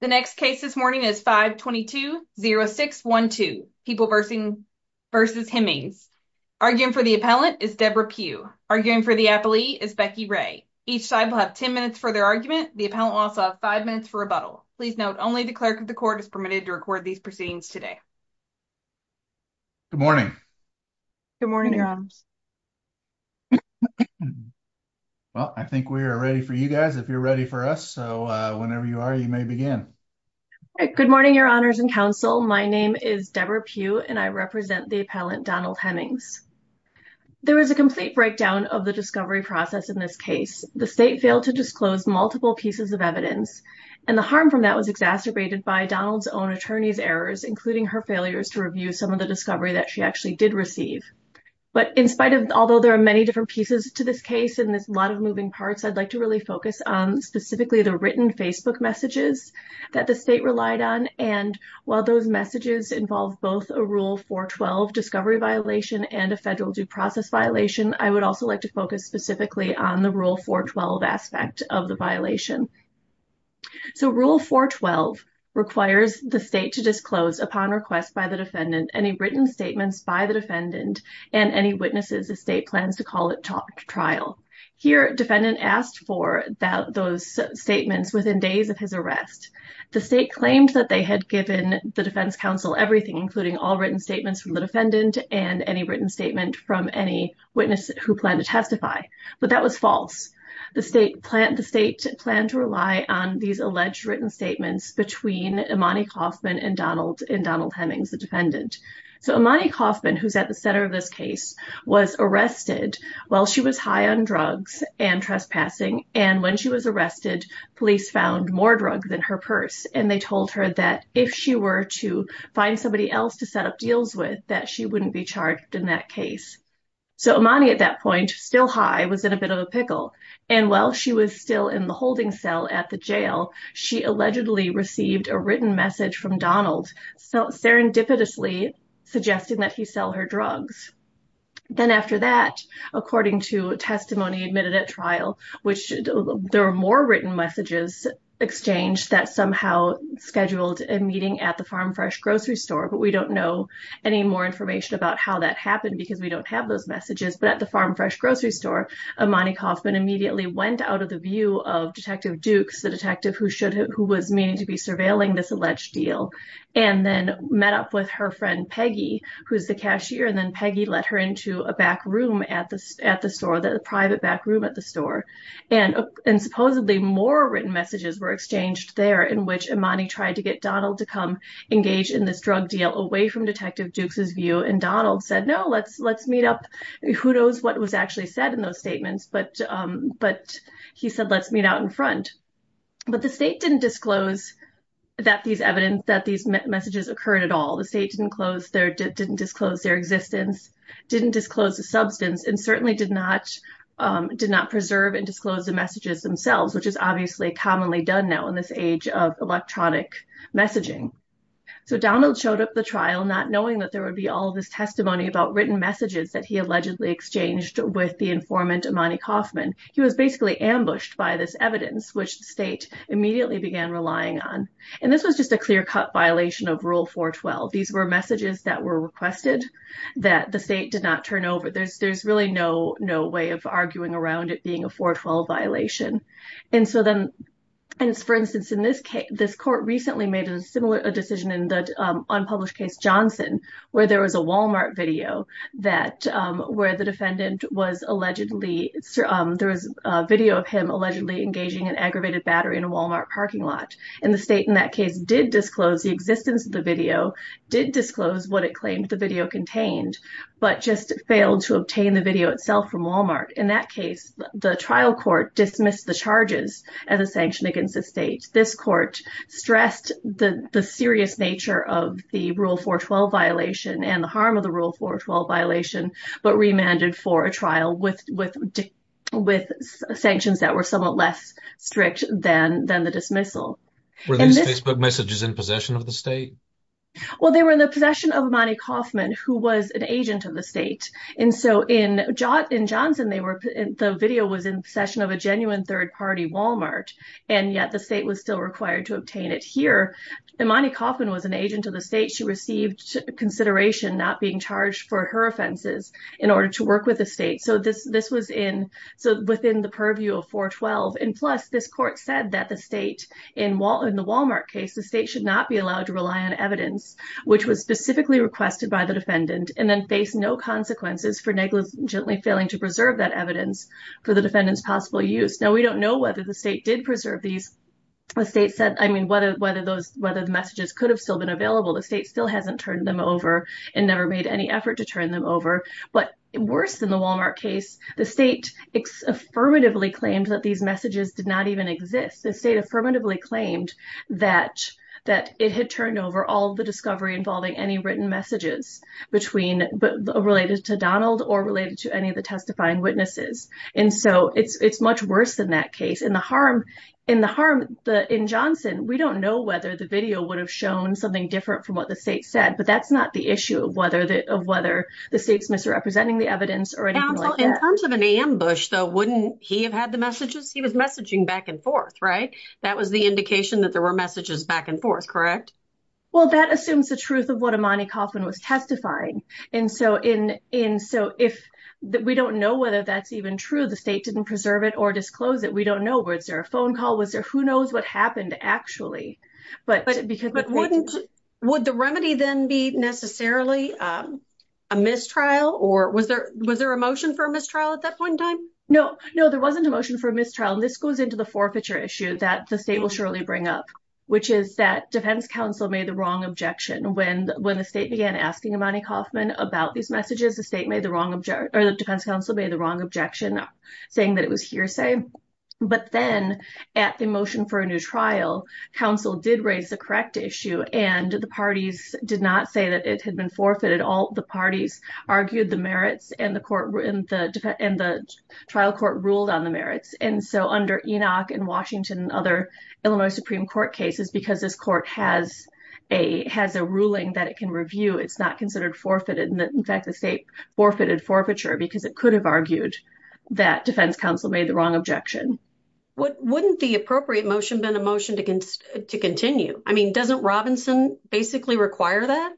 The next case this morning is 522-0612, People v. Hemmings. Arguing for the appellant is Deborah Pugh. Arguing for the appellee is Becky Ray. Each side will have 10 minutes for their argument. The appellant will also have 5 minutes for rebuttal. Please note, only the clerk of the court is permitted to record these proceedings today. Good morning. Good morning, Your Honors. Well, I think we are ready for you guys if you're ready for us. So whenever you are, you may begin. Good morning, Your Honors and counsel. My name is Deborah Pugh and I represent the appellant Donald Hemmings. There is a complete breakdown of the discovery process in this case. The state failed to disclose multiple pieces of evidence and the harm from that was exacerbated by Donald's own attorney's errors, including her failures to review some of the discovery that she actually did receive. But in spite of, although there are many different pieces to this case and there's a lot of moving parts, I'd like to really focus on specifically the Facebook messages that the state relied on. And while those messages involve both a Rule 412 discovery violation and a federal due process violation, I would also like to focus specifically on the Rule 412 aspect of the violation. So Rule 412 requires the state to disclose, upon request by the defendant, any written statements by the defendant and any witnesses the state plans to call it trial. Here, defendant asked for those statements within days of his arrest. The state claimed that they had given the defense counsel everything, including all written statements from the defendant and any written statement from any witness who planned to testify. But that was false. The state planned to rely on these alleged written statements between Imani Kaufman and Donald Hemmings, the defendant. So Imani Kaufman, who's at the center of this case, was arrested while she was high on drugs and trespassing. And when she was arrested, police found more drugs in her purse. And they told her that if she were to find somebody else to set up deals with, that she wouldn't be charged in that case. So Imani, at that point, still high, was in a bit of a pickle. And while she was still in the holding cell at the jail, she allegedly received a written message from Donald serendipitously suggesting that he sell her drugs. Then after that, according to testimony admitted at trial, which there were more written messages exchanged that somehow scheduled a meeting at the Farm Fresh grocery store. But we don't know any more information about how that happened because we don't have those messages. But at the Farm Fresh grocery store, Imani Kaufman immediately went out of the view of Detective Dukes, the surveilling this alleged deal, and then met up with her friend Peggy, who's the cashier. And then Peggy let her into a back room at the store, the private back room at the store. And supposedly more written messages were exchanged there in which Imani tried to get Donald to come engage in this drug deal away from Detective Dukes' view. And Donald said, no, let's meet up. Who knows what was actually said in those statements. But he said, let's meet out in front. But the state didn't disclose that these messages occurred at all. The state didn't disclose their existence, didn't disclose the substance, and certainly did not preserve and disclose the messages themselves, which is obviously commonly done now in this age of electronic messaging. So Donald showed up at the trial not knowing that there would be all of this testimony about written messages that he allegedly exchanged with the informant Imani Kaufman. He was basically ambushed by this evidence, which the state immediately began relying on. And this was just a clear cut violation of Rule 412. These were messages that were requested that the state did not turn over. There's really no way of arguing around it being a 412 violation. And so then, for instance, in this case, this court recently made a similar decision in the unpublished case Johnson, where there was a Walmart video that where the defendant was allegedly, there was a video of him allegedly engaging an aggravated battery in a Walmart parking lot. And the state in that case did disclose the existence of the video, did disclose what it claimed the video contained, but just failed to obtain the video itself from Walmart. In that case, the trial court dismissed the charges as a sanction against the state. This court stressed the serious nature of the Rule 412 violation and the harm of the Rule 412 violation, but remanded for a trial with sanctions that were somewhat less strict than the dismissal. Were these Facebook messages in possession of the state? Well, they were in the possession of Imani Kaufman, who was an agent of the state. And so in Johnson, the video was in possession of a genuine third-party Walmart, and yet the state was still required to obtain it here. Imani Kaufman was an agent of the state. She received consideration not being charged for her offenses in order to work with the state. So this was within the purview of 412. And plus, this court said that the state, in the Walmart case, the state should not be allowed to rely on evidence, which was specifically requested by the defendant, and then face no consequences for negligently failing to preserve that evidence for the defendant's possible use. Now, we don't know whether the state did preserve these. The state said, I mean, whether the messages could have still been available. The state still hasn't turned them over and never made any effort to turn them over. But worse than the Walmart case, the state affirmatively claimed that these messages did not even exist. The state affirmatively claimed that it had turned over all the discovery involving any written messages related to Donald or related to any of the testifying witnesses. And so it's much worse than that case. In the harm, in the harm, in Johnson, we don't know whether the video would have shown something different from what the state said. But that's not the issue of whether the state's misrepresenting the evidence or anything like that. In terms of an ambush, though, wouldn't he have had the messages? He was messaging back and forth, right? That was the indication that there were messages back and forth, correct? Well, that assumes the truth of what Imani Kaufman was testifying. And so if we don't know whether that's even true, the state didn't preserve it or disclose it. We don't know. Was there a phone call? Was there who knows what happened, actually? Would the remedy then be necessarily a mistrial? Or was there a motion for a mistrial at that point in time? No, no, there wasn't a motion for a mistrial. This goes into the forfeiture issue that the state will surely bring up, which is that defense counsel made the wrong objection when the state began asking Imani Kaufman about these messages. The defense counsel made the wrong objection, saying that it was hearsay. But then at the motion for a new trial, counsel did raise the correct issue, and the parties did not say that it had been forfeited. All the parties argued the merits and the trial court ruled on the merits. And so under Enoch and Washington and other Illinois Supreme Court cases, because this court has a ruling that it can review, it's not considered forfeited. In fact, the state forfeited forfeiture because it could have argued that defense counsel made the wrong objection. Wouldn't the appropriate motion have been a motion to continue? I mean, doesn't Robinson basically require that?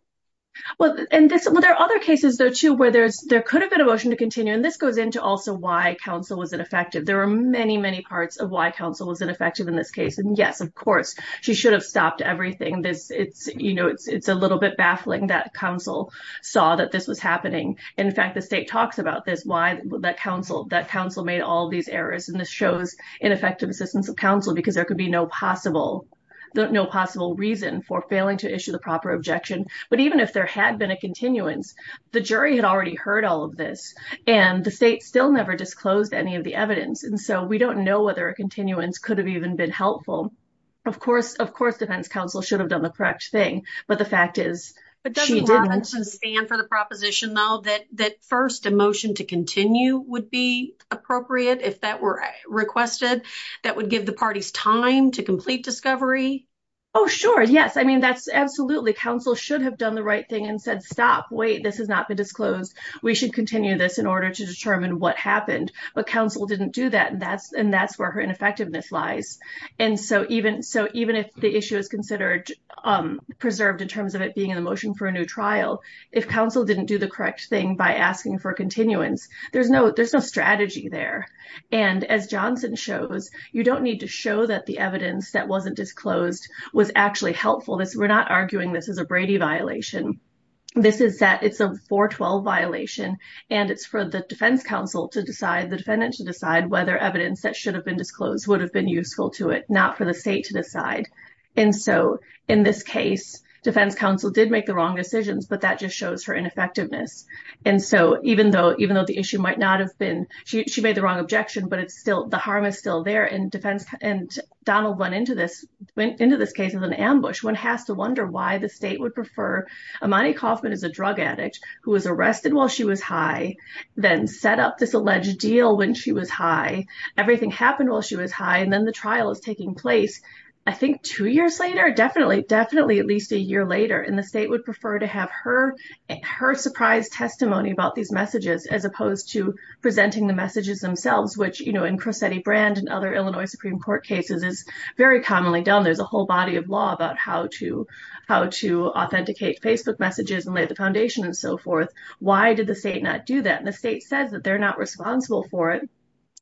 Well, there are other cases, though, too, where there could have been a motion to continue. And this goes into also why counsel was ineffective. There are many, many parts of why counsel was ineffective in this case. And yes, of course, she should have stopped everything. It's a little bit baffling that counsel saw that this was happening. In fact, the state talks about this, why that counsel made all these errors. And this shows ineffective assistance of counsel because there could be no possible reason for failing to issue the proper objection. But even if there had been a continuance, the jury had already heard all of this and the state still never disclosed any of the evidence. And so we don't know whether a continuance could have even been helpful. Of course, of course, defense counsel should have done the correct thing. But the fact is, But doesn't Robinson stand for the proposition, though, that that first motion to continue would be appropriate if that were requested, that would give the parties time to complete discovery? Oh, sure. Yes. I mean, that's absolutely counsel should have done the right thing and said, stop, wait, this has not been disclosed. We should continue this in order to determine what happened. But counsel didn't do that. And that's and that's where her ineffectiveness lies. And so even so even if the issue is considered preserved in terms of it being in the motion for a new trial, if counsel didn't do the correct thing by asking for continuance, there's no there's no strategy there. And as Johnson shows, you don't need to show that the evidence that wasn't disclosed was actually helpful. We're not arguing this is a Brady violation. This is that it's a 412 violation. And it's for the defense counsel to decide the defendant to decide whether evidence that should have been disclosed would have been useful to it, not for the state to decide. And so in this case, defense counsel did make the wrong decisions, but that just shows her ineffectiveness. And so even though even though the issue might not have been she made the wrong objection, but it's still the harm is still there. And defense and Donald went into this went into this case as an ambush. One has to wonder why the state would prefer Imani Kaufman is a drug addict who was arrested while she was high, then set up this alleged deal when she was high. Everything happened while she was high. And then the trial is taking place. I think two years later, definitely, definitely at least a year later in the state would prefer to have her her surprise testimony about these messages as opposed to presenting the messages themselves, which, you know, in Crosetti brand and other Illinois Supreme Court cases is very commonly done. There's a whole body of law about how to how to authenticate Facebook messages and lay the foundation and so forth. Why did the state not do that? And the state says that they're not responsible for it.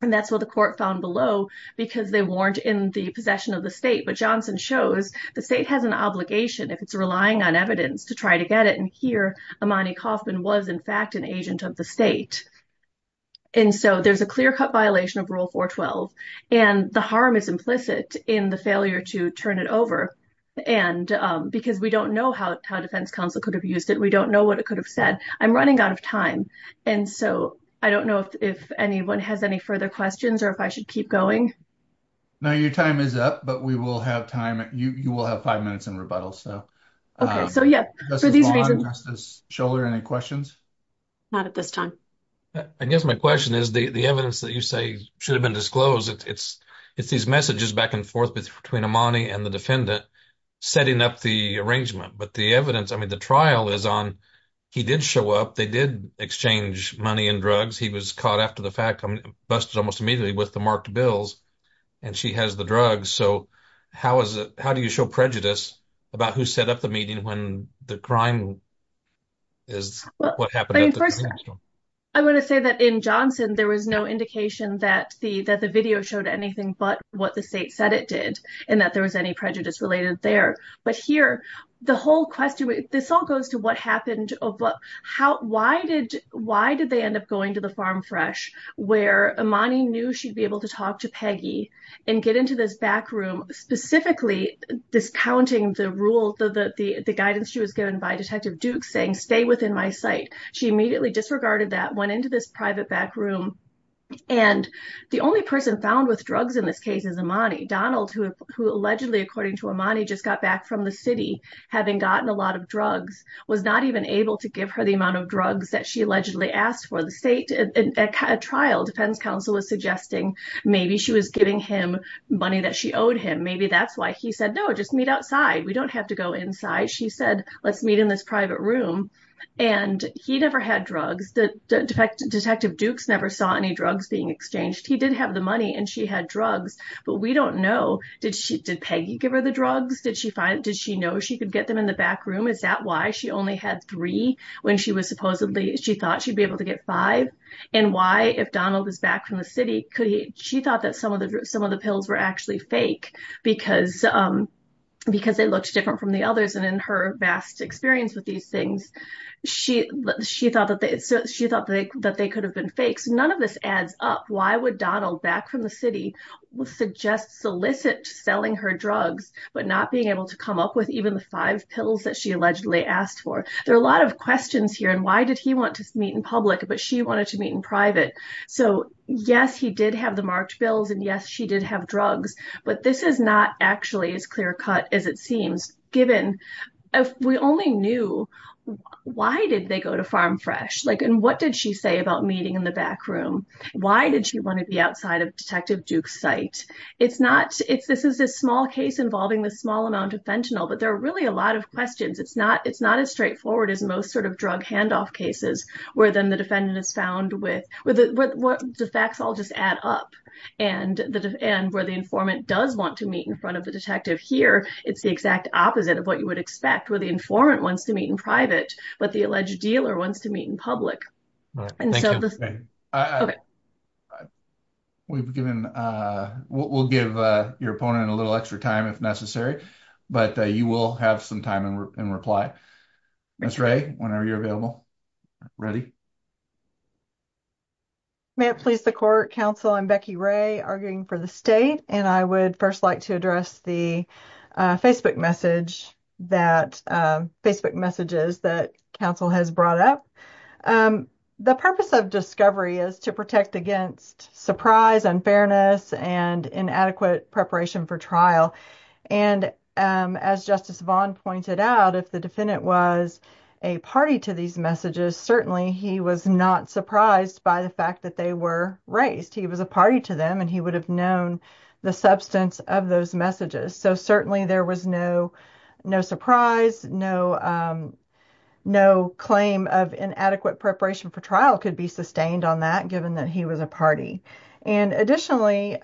And that's what the court found below, because they weren't in the possession of the state. But Johnson shows the state has an obligation if it's relying on evidence to try to get it. And here, Imani Kaufman was, in fact, an agent of the state. And so there's a clear cut violation of Rule 412. And the harm is implicit in the failure to turn it over. And because we don't know how defense counsel could have used it. We don't know what it could have said. I'm running out of time. And so I don't know if anyone has any further questions or if I should keep going. Now, your time is up, but we will have time. You will have five minutes in rebuttal. So. So, yeah, for these reasons, shoulder any questions. Not at this time. I guess my question is the evidence that you say should have been disclosed. It's it's these messages back and forth between Imani and the defendant setting up the arrangement. But the evidence I mean, the trial is on. He did show up. They did exchange money and drugs. He was caught after the fact busted almost immediately with the marked bills. And she has the drugs. So how is it? How do you show prejudice about who set up the meeting when the crime is what happened? I want to say that in Johnson, there was no indication that the that the video showed anything but what the state said it did and that there was any prejudice related there. But here, the whole question, this all goes to what happened. But how? Why did why did they end up going to the Farm Fresh where Imani knew she'd be able to talk to Peggy and get into this back room, specifically discounting the rule that the guidance she was given by Detective Duke saying stay within my sight. She immediately disregarded that, went into this private back room. And the only person found with drugs in this case is Imani. Donald, who allegedly, according to Imani, just got back from the city, having gotten a lot of drugs, was not even able to give her the amount of drugs that she allegedly asked for. The state trial defense counsel was suggesting maybe she was giving him money that she owed him. Maybe that's why he said, no, just meet outside. We don't have to go inside. She said, let's meet in this private room. And he never had drugs. Detective Dukes never saw any drugs being exchanged. He did have the money and she had drugs. But we don't know. Did she did Peggy give her the drugs? Did she find it? Did she know she could get them in the back room? Is that why she only had three when she was supposedly she thought she'd be able to get five? And why, if Donald is back from the city, she thought that some of the some of the pills were actually fake because they looked different from the others. And in her vast experience with these things, she thought that they could have been fakes. None of this adds up. Why would Donald, back from the city, suggest solicit selling her drugs, but not being able to come up with even the five pills that she asked for? There are a lot of questions here. And why did he want to meet in public? But she wanted to meet in private. So, yes, he did have the marked bills. And yes, she did have drugs. But this is not actually as clear cut as it seems, given if we only knew why did they go to Farm Fresh? Like and what did she say about meeting in the back room? Why did she want to be outside of Detective Duke's site? It's not it's this is a small case involving the small amount of fentanyl. But there are really a lot of questions. It's not it's not as straightforward as most sort of drug handoff cases where then the defendant is found with what the facts all just add up. And where the informant does want to meet in front of the detective here, it's the exact opposite of what you would expect, where the informant wants to meet in private, but the alleged dealer wants to meet in public. And so we've given we'll give your opponent a little extra time if necessary. But you will have some time and reply. Ms. Ray, whenever you're available. Ready? May it please the court, counsel, I'm Becky Ray arguing for the state. And I would first like to address the Facebook message that Facebook messages that counsel has brought up. The purpose of discovery is to protect against surprise, unfairness and inadequate preparation for trial. And as Justice Vaughn pointed out, if the defendant was a party to these messages, certainly he was not surprised by the fact that they were raised. He was a party to them and he would have known the substance of those messages. So certainly there was no no surprise, no no claim of inadequate preparation for trial could be sustained on that given that he was a party. And additionally,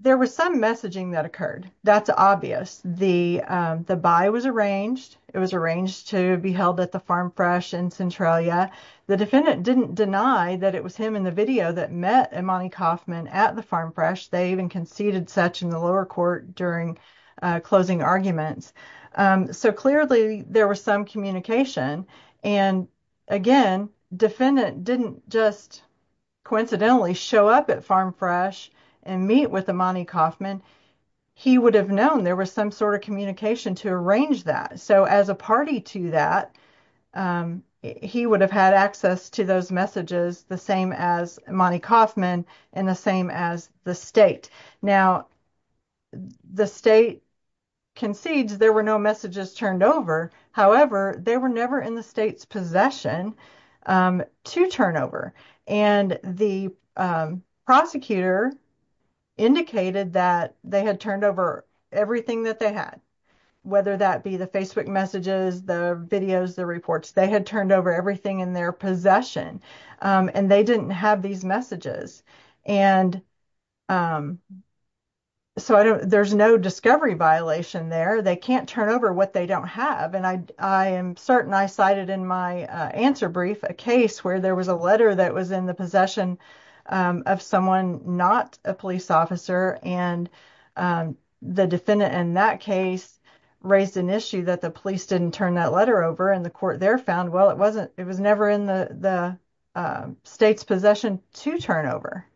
there was some messaging that occurred. That's obvious. The buy was arranged. It was arranged to be held at the Farm Fresh in Centralia. The defendant didn't deny that it was him in the video that met Imani Kaufman at the Farm Fresh. They even conceded such in the lower court during closing arguments. So clearly there was some communication. And again, defendant didn't just coincidentally show up at Farm Fresh and meet with Imani Kaufman. He would have known there was some sort of communication to arrange that. So as a party to that, he would have had access to those messages, the same as Imani Kaufman and the same as the state. Now, the state concedes there were no messages turned over. However, they were never in the state's possession to turn over. And the prosecutor indicated that they had turned over everything that they had, whether that be the Facebook messages, the videos, the reports, they had turned over everything in their possession and they didn't have these messages. And so there's no discovery violation there. They can't turn over what they don't have. And I am certain I cited in my answer brief a case where there was a letter that was in the possession of someone not a police officer. And the defendant in that case raised an issue that the police didn't turn that letter over and the court there found, well, it wasn't it was never in the state's possession to turn over.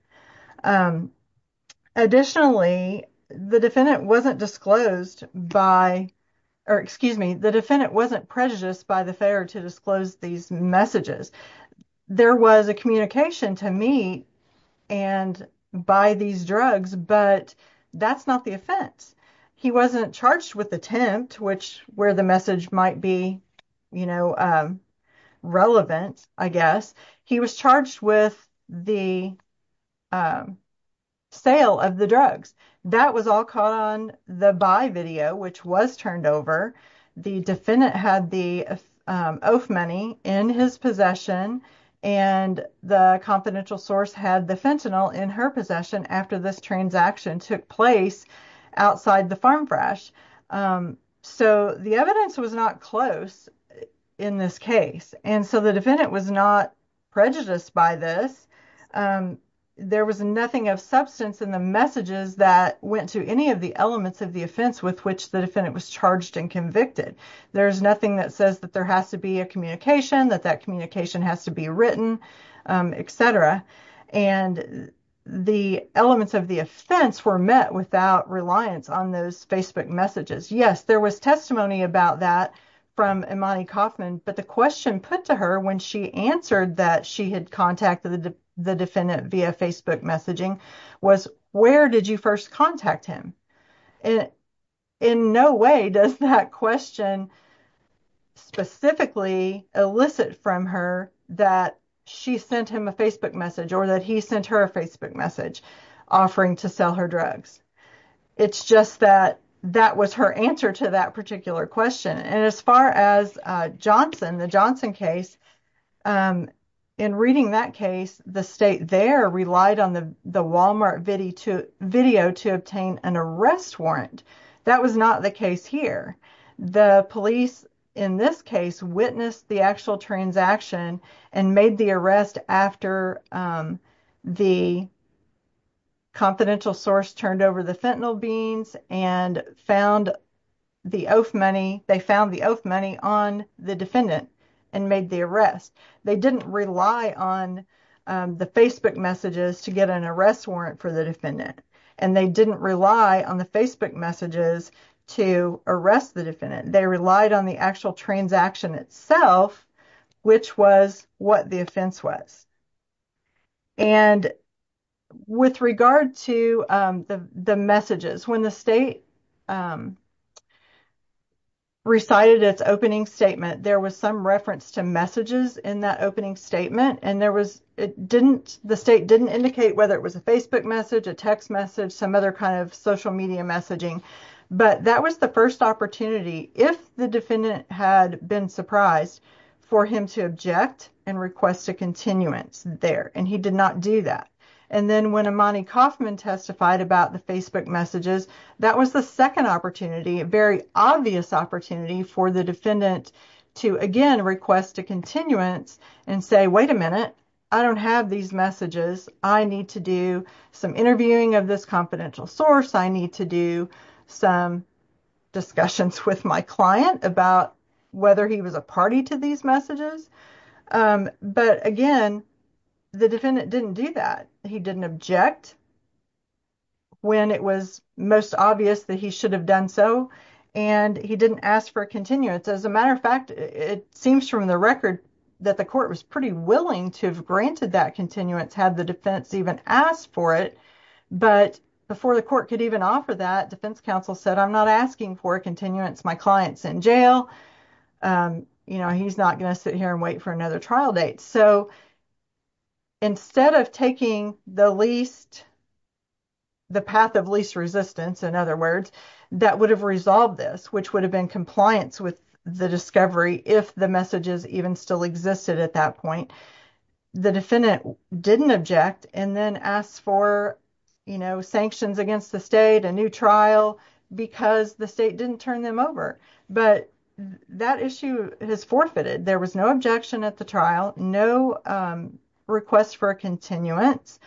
Additionally, the defendant wasn't disclosed by or excuse me, the defendant wasn't prejudiced by the failure to disclose these messages. There was a communication to me and buy these drugs, but that's not the offense. He wasn't charged with attempt, which where the message might be, you know, relevant, I guess. He was charged with the sale of the drugs. That was all caught on the buy video, which was turned over. The defendant had the oath money in his possession and the confidential source had the fentanyl in her possession after this transaction took place outside the farm fresh. So the evidence was not close in this case. And so the defendant was not prejudiced by this. There was nothing of substance in the messages went to any of the elements of the offense with which the defendant was charged and convicted. There's nothing that says that there has to be a communication, that that communication has to be written, etc. And the elements of the offense were met without reliance on those Facebook messages. Yes, there was testimony about that from Imani Kaufman. But the question put to her when she answered that she had contacted the defendant via Facebook messaging was where did you first contact him? In no way does that question specifically elicit from her that she sent him a Facebook message or that he sent her a Facebook message offering to sell her drugs. It's just that that was her answer to that particular question. And as far as Johnson, the Johnson case, in reading that case, the state there relied on the Walmart video to obtain an arrest warrant. That was not the case here. The police, in this case, witnessed the actual transaction and made the arrest after the confidential source turned over the fentanyl and found the oath money. They found the oath money on the defendant and made the arrest. They didn't rely on the Facebook messages to get an arrest warrant for the defendant. And they didn't rely on the Facebook messages to arrest the defendant. They relied on the transaction itself, which was what the offense was. And with regard to the messages, when the state recited its opening statement, there was some reference to messages in that opening statement. And there was it didn't the state didn't indicate whether it was a Facebook message, a text message, some other kind of social media messaging. But that was the first opportunity. If the defendant had been surprised for him to object and request a continuance there. And he did not do that. And then when Imani Kaufman testified about the Facebook messages, that was the second opportunity, a very obvious opportunity for the defendant to again request a continuance and say, wait a minute, I don't have these messages. I need to do some interviewing of this confidential source. I need to do some discussions with my client about whether he was a party to these messages. But again, the defendant didn't do that. He didn't object when it was most obvious that he should have done so. And he didn't ask for a continuance. As a matter of fact, it seems from the record that the court was pretty willing to have granted that continuance had the defense even asked for it. But before the court could even offer that, defense counsel said, I'm not asking for a continuance. My client's in jail. You know, he's not going to sit here and wait for another trial date. So, instead of taking the least, the path of least resistance, in other words, that would have resolved this, which would have been compliance with the discovery if the messages even still existed at that point. The defendant didn't object and then asked for, you know, sanctions against the state, a new trial because the state didn't turn them over. But that issue has forfeited. There was no objection at the trial, no request for continuance.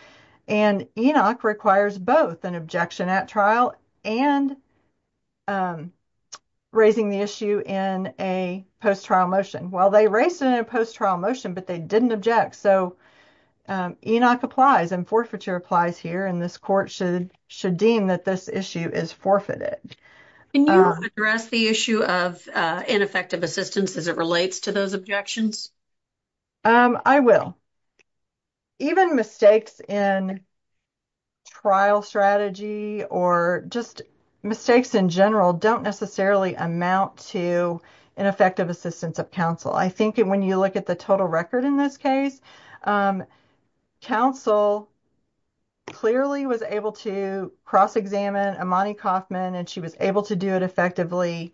And ENOC requires both an objection at trial and raising the issue in a post-trial motion. Well, they raised it in a post-trial motion, but they didn't object. So, ENOC applies and forfeiture applies here. And this court should should deem that this issue is forfeited. Can you address the issue of ineffective assistance as it relates to those objections? I will. Even mistakes in trial strategy or just mistakes in general don't necessarily amount to ineffective assistance of counsel. I think when you look at the total record in this case, counsel clearly was able to cross-examine Imani Kaufman and she was able to do it effectively.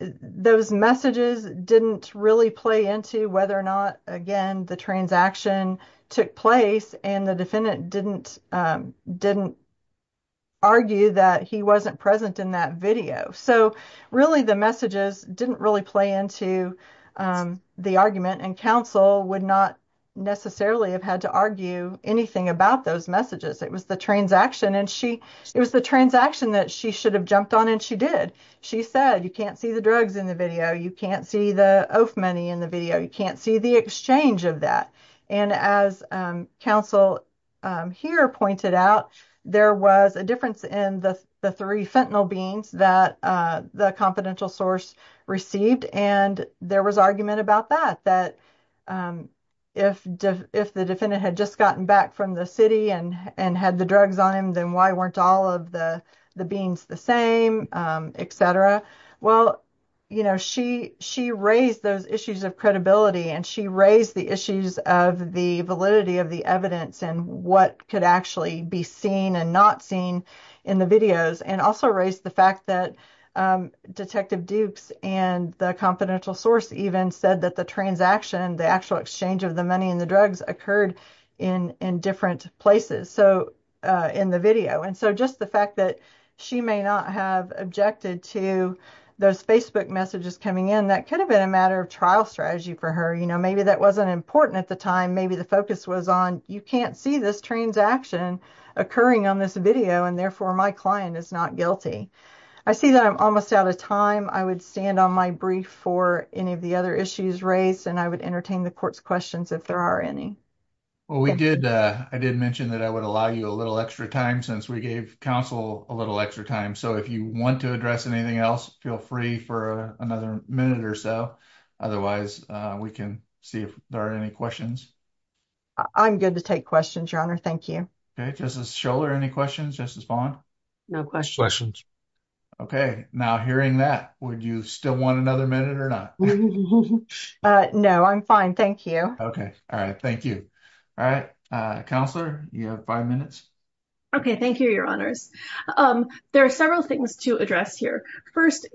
Those messages didn't really play into whether or not, again, the transaction took place and the defendant didn't didn't argue that he wasn't present in that video. So, really, the messages didn't really play into the argument and counsel would not necessarily have had to argue anything about those messages. It was the transaction and she it was the transaction that she should have jumped on and she did. She said, you can't see the drugs in the video, you can't see the oath money in the video, you can't see the exchange of that. And as counsel here pointed out, there was a difference in the three fentanyl beans that the confidential source received and there was argument about that, that if the defendant had just gotten back from the city and had the drugs on him, then why weren't all of the the beans the same, etc. Well, you know, she raised those issues of credibility and she raised the issues of the validity of the evidence and what could actually be seen and not seen in the videos and also raised the fact that Detective Dukes and the confidential source even said that the transaction, the actual exchange of money and the drugs occurred in different places, so in the video. And so just the fact that she may not have objected to those Facebook messages coming in, that could have been a matter of trial strategy for her. You know, maybe that wasn't important at the time, maybe the focus was on you can't see this transaction occurring on this video and therefore my client is not guilty. I see that I'm almost out of time. I would stand on my brief for any of the other issues raised and I would entertain the court's questions if there are any. Well, we did, I did mention that I would allow you a little extra time since we gave counsel a little extra time, so if you want to address anything else, feel free for another minute or so. Otherwise, we can see if there are any questions. I'm good to take questions, Your Honor. Thank you. Okay, Justice Schoeller, any questions, Justice Bond? No questions. Okay, now hearing that, would you still want another minute or not? No, I'm fine, thank you. Okay, all right, thank you. All right, Counselor, you have five minutes. Okay, thank you, Your Honors. There are several things to address here. First,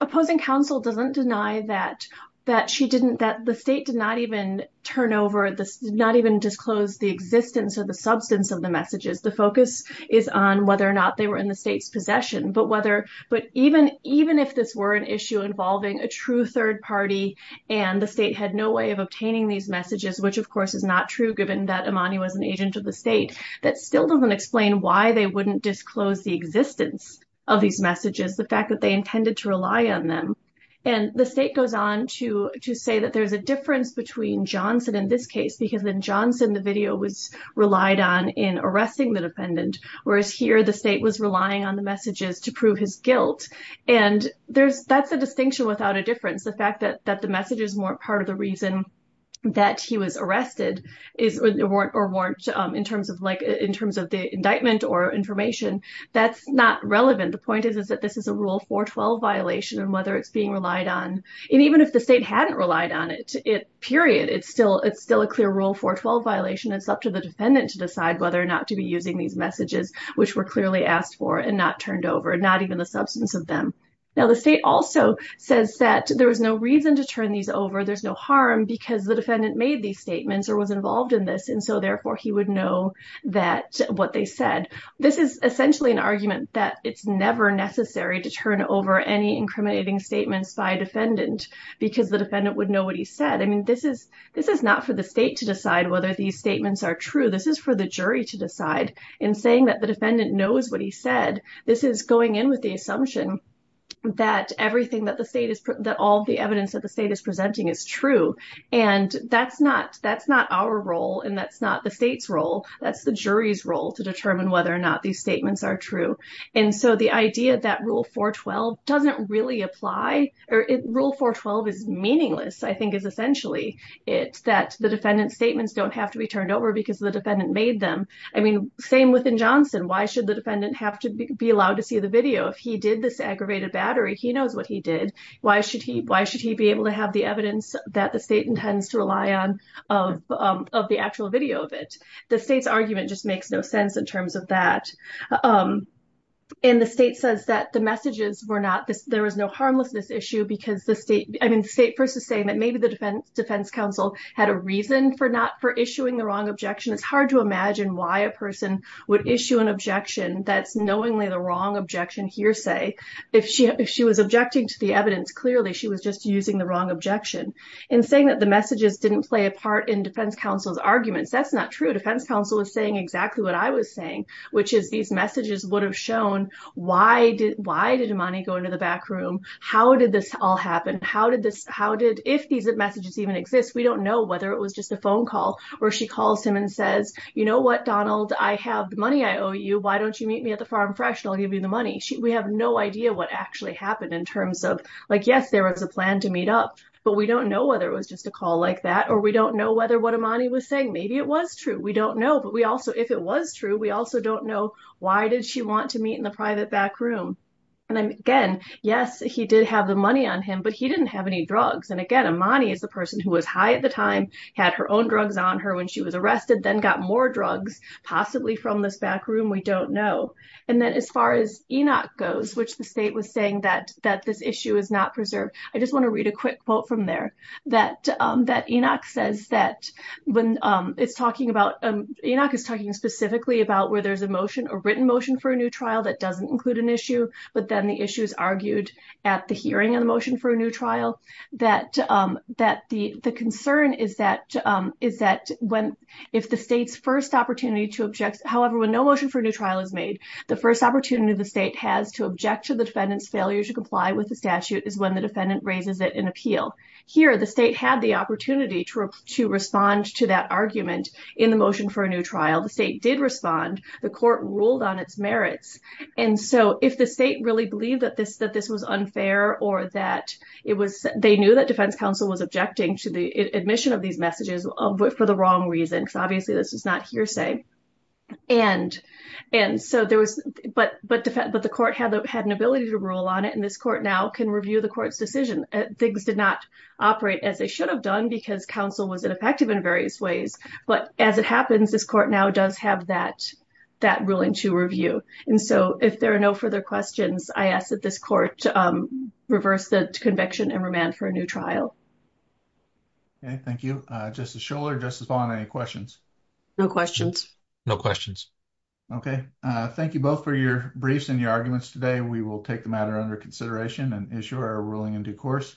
opposing counsel doesn't deny that the state did not even turn over, did not even disclose the existence or the substance of the messages. The focus is on whether or not they were in the state's third party and the state had no way of obtaining these messages, which of course is not true given that Imani was an agent of the state. That still doesn't explain why they wouldn't disclose the existence of these messages, the fact that they intended to rely on them. And the state goes on to to say that there's a difference between Johnson in this case because in Johnson, the video was relied on in arresting the defendant, whereas here the state was relying on the messages to prove his guilt. And that's a distinction without a difference. The fact that the messages weren't part of the reason that he was arrested or weren't in terms of the indictment or information, that's not relevant. The point is that this is a Rule 412 violation and whether it's being relied on. And even if the state hadn't relied on it, period, it's still a clear Rule 412 violation. It's up to the defendant to decide whether or not to be using these messages, which were clearly asked for and not turned over, not even the substance of them. Now, the state also says that there was no reason to turn these over. There's no harm because the defendant made these statements or was involved in this. And so, therefore, he would know that what they said. This is essentially an argument that it's never necessary to turn over any incriminating statements by a defendant because the defendant would know what he said. I mean, this is not for the state to decide whether these statements are true. This is for the jury to decide in saying that the defendant knows what he said. This is going in with the assumption that all the evidence that the state is presenting is true. And that's not our role and that's not the state's role. That's the jury's role to determine whether or not these statements are true. And so, the idea that Rule 412 doesn't really apply or Rule 412 is meaningless, I think, is essentially that the defendant's statements don't have to be turned over because the defendant made them. I mean, same within Johnson. Why should the defendant have to be allowed to see the video? If he did this aggravated battery, he knows what he did. Why should he be able to have the evidence that the state intends to rely on of the actual video of it? The state's argument just makes no sense in terms of that. And the state says that the messages were not, there was no harmlessness issue because the state, versus saying that maybe the defense counsel had a reason for not, for issuing the wrong objection. It's hard to imagine why a person would issue an objection that's knowingly the wrong objection hearsay. If she was objecting to the evidence, clearly, she was just using the wrong objection. In saying that the messages didn't play a part in defense counsel's arguments, that's not true. Defense counsel was saying exactly what I was saying, which is these messages would have shown why did Imani go into the back room? How did this all happen? How did, if these messages even exist, we don't know whether it was just a phone call, or she calls him and says, you know what, Donald, I have the money I owe you. Why don't you meet me at the Farm Fresh and I'll give you the money? We have no idea what actually happened in terms of, like, yes, there was a plan to meet up, but we don't know whether it was just a call like that, or we don't know whether what Imani was saying, maybe it was true. We don't know. But we also, if it was true, we also don't know why did she want to meet in the private back room? And again, yes, he did have the money on him, but he didn't have any drugs. And again, Imani is the person who was high at the time, had her own drugs on her when she was arrested, then got more drugs, possibly from this back room, we don't know. And then as far as Enoch goes, which the state was saying that this issue is not preserved, I just want to read a quick quote from there, that Enoch says that when it's talking about, Enoch is talking specifically about where there's a motion or written motion for a new trial that doesn't include an issue, but then the issues argued at the hearing of the motion for a new trial, that the concern is that if the state's first opportunity to object, however, when no motion for a new trial is made, the first opportunity the state has to object to the defendant's failure to comply with the statute is when the defendant raises it in appeal. Here, the state had the opportunity to respond to that argument in the motion for a new trial, the state did respond, the court ruled on its merits. And so if the state really believed that this was unfair or that it was, they knew that defense counsel was objecting to the admission of these messages for the wrong reason, because obviously this is not hearsay. And so there was, but the court had an ability to rule on it and this court now can review the court's decision. Things did not operate as they should have done because counsel was ineffective in various ways, but as it happens, this court now does have that ruling to review. And so if there are no further questions, I ask that this court reverse the conviction and remand for a new trial. Okay, thank you. Justice Scholar, Justice Vaughn, any questions? No questions. No questions. Okay. Thank you both for your briefs and your arguments today. We will take the matter under consideration and issue our ruling in due course.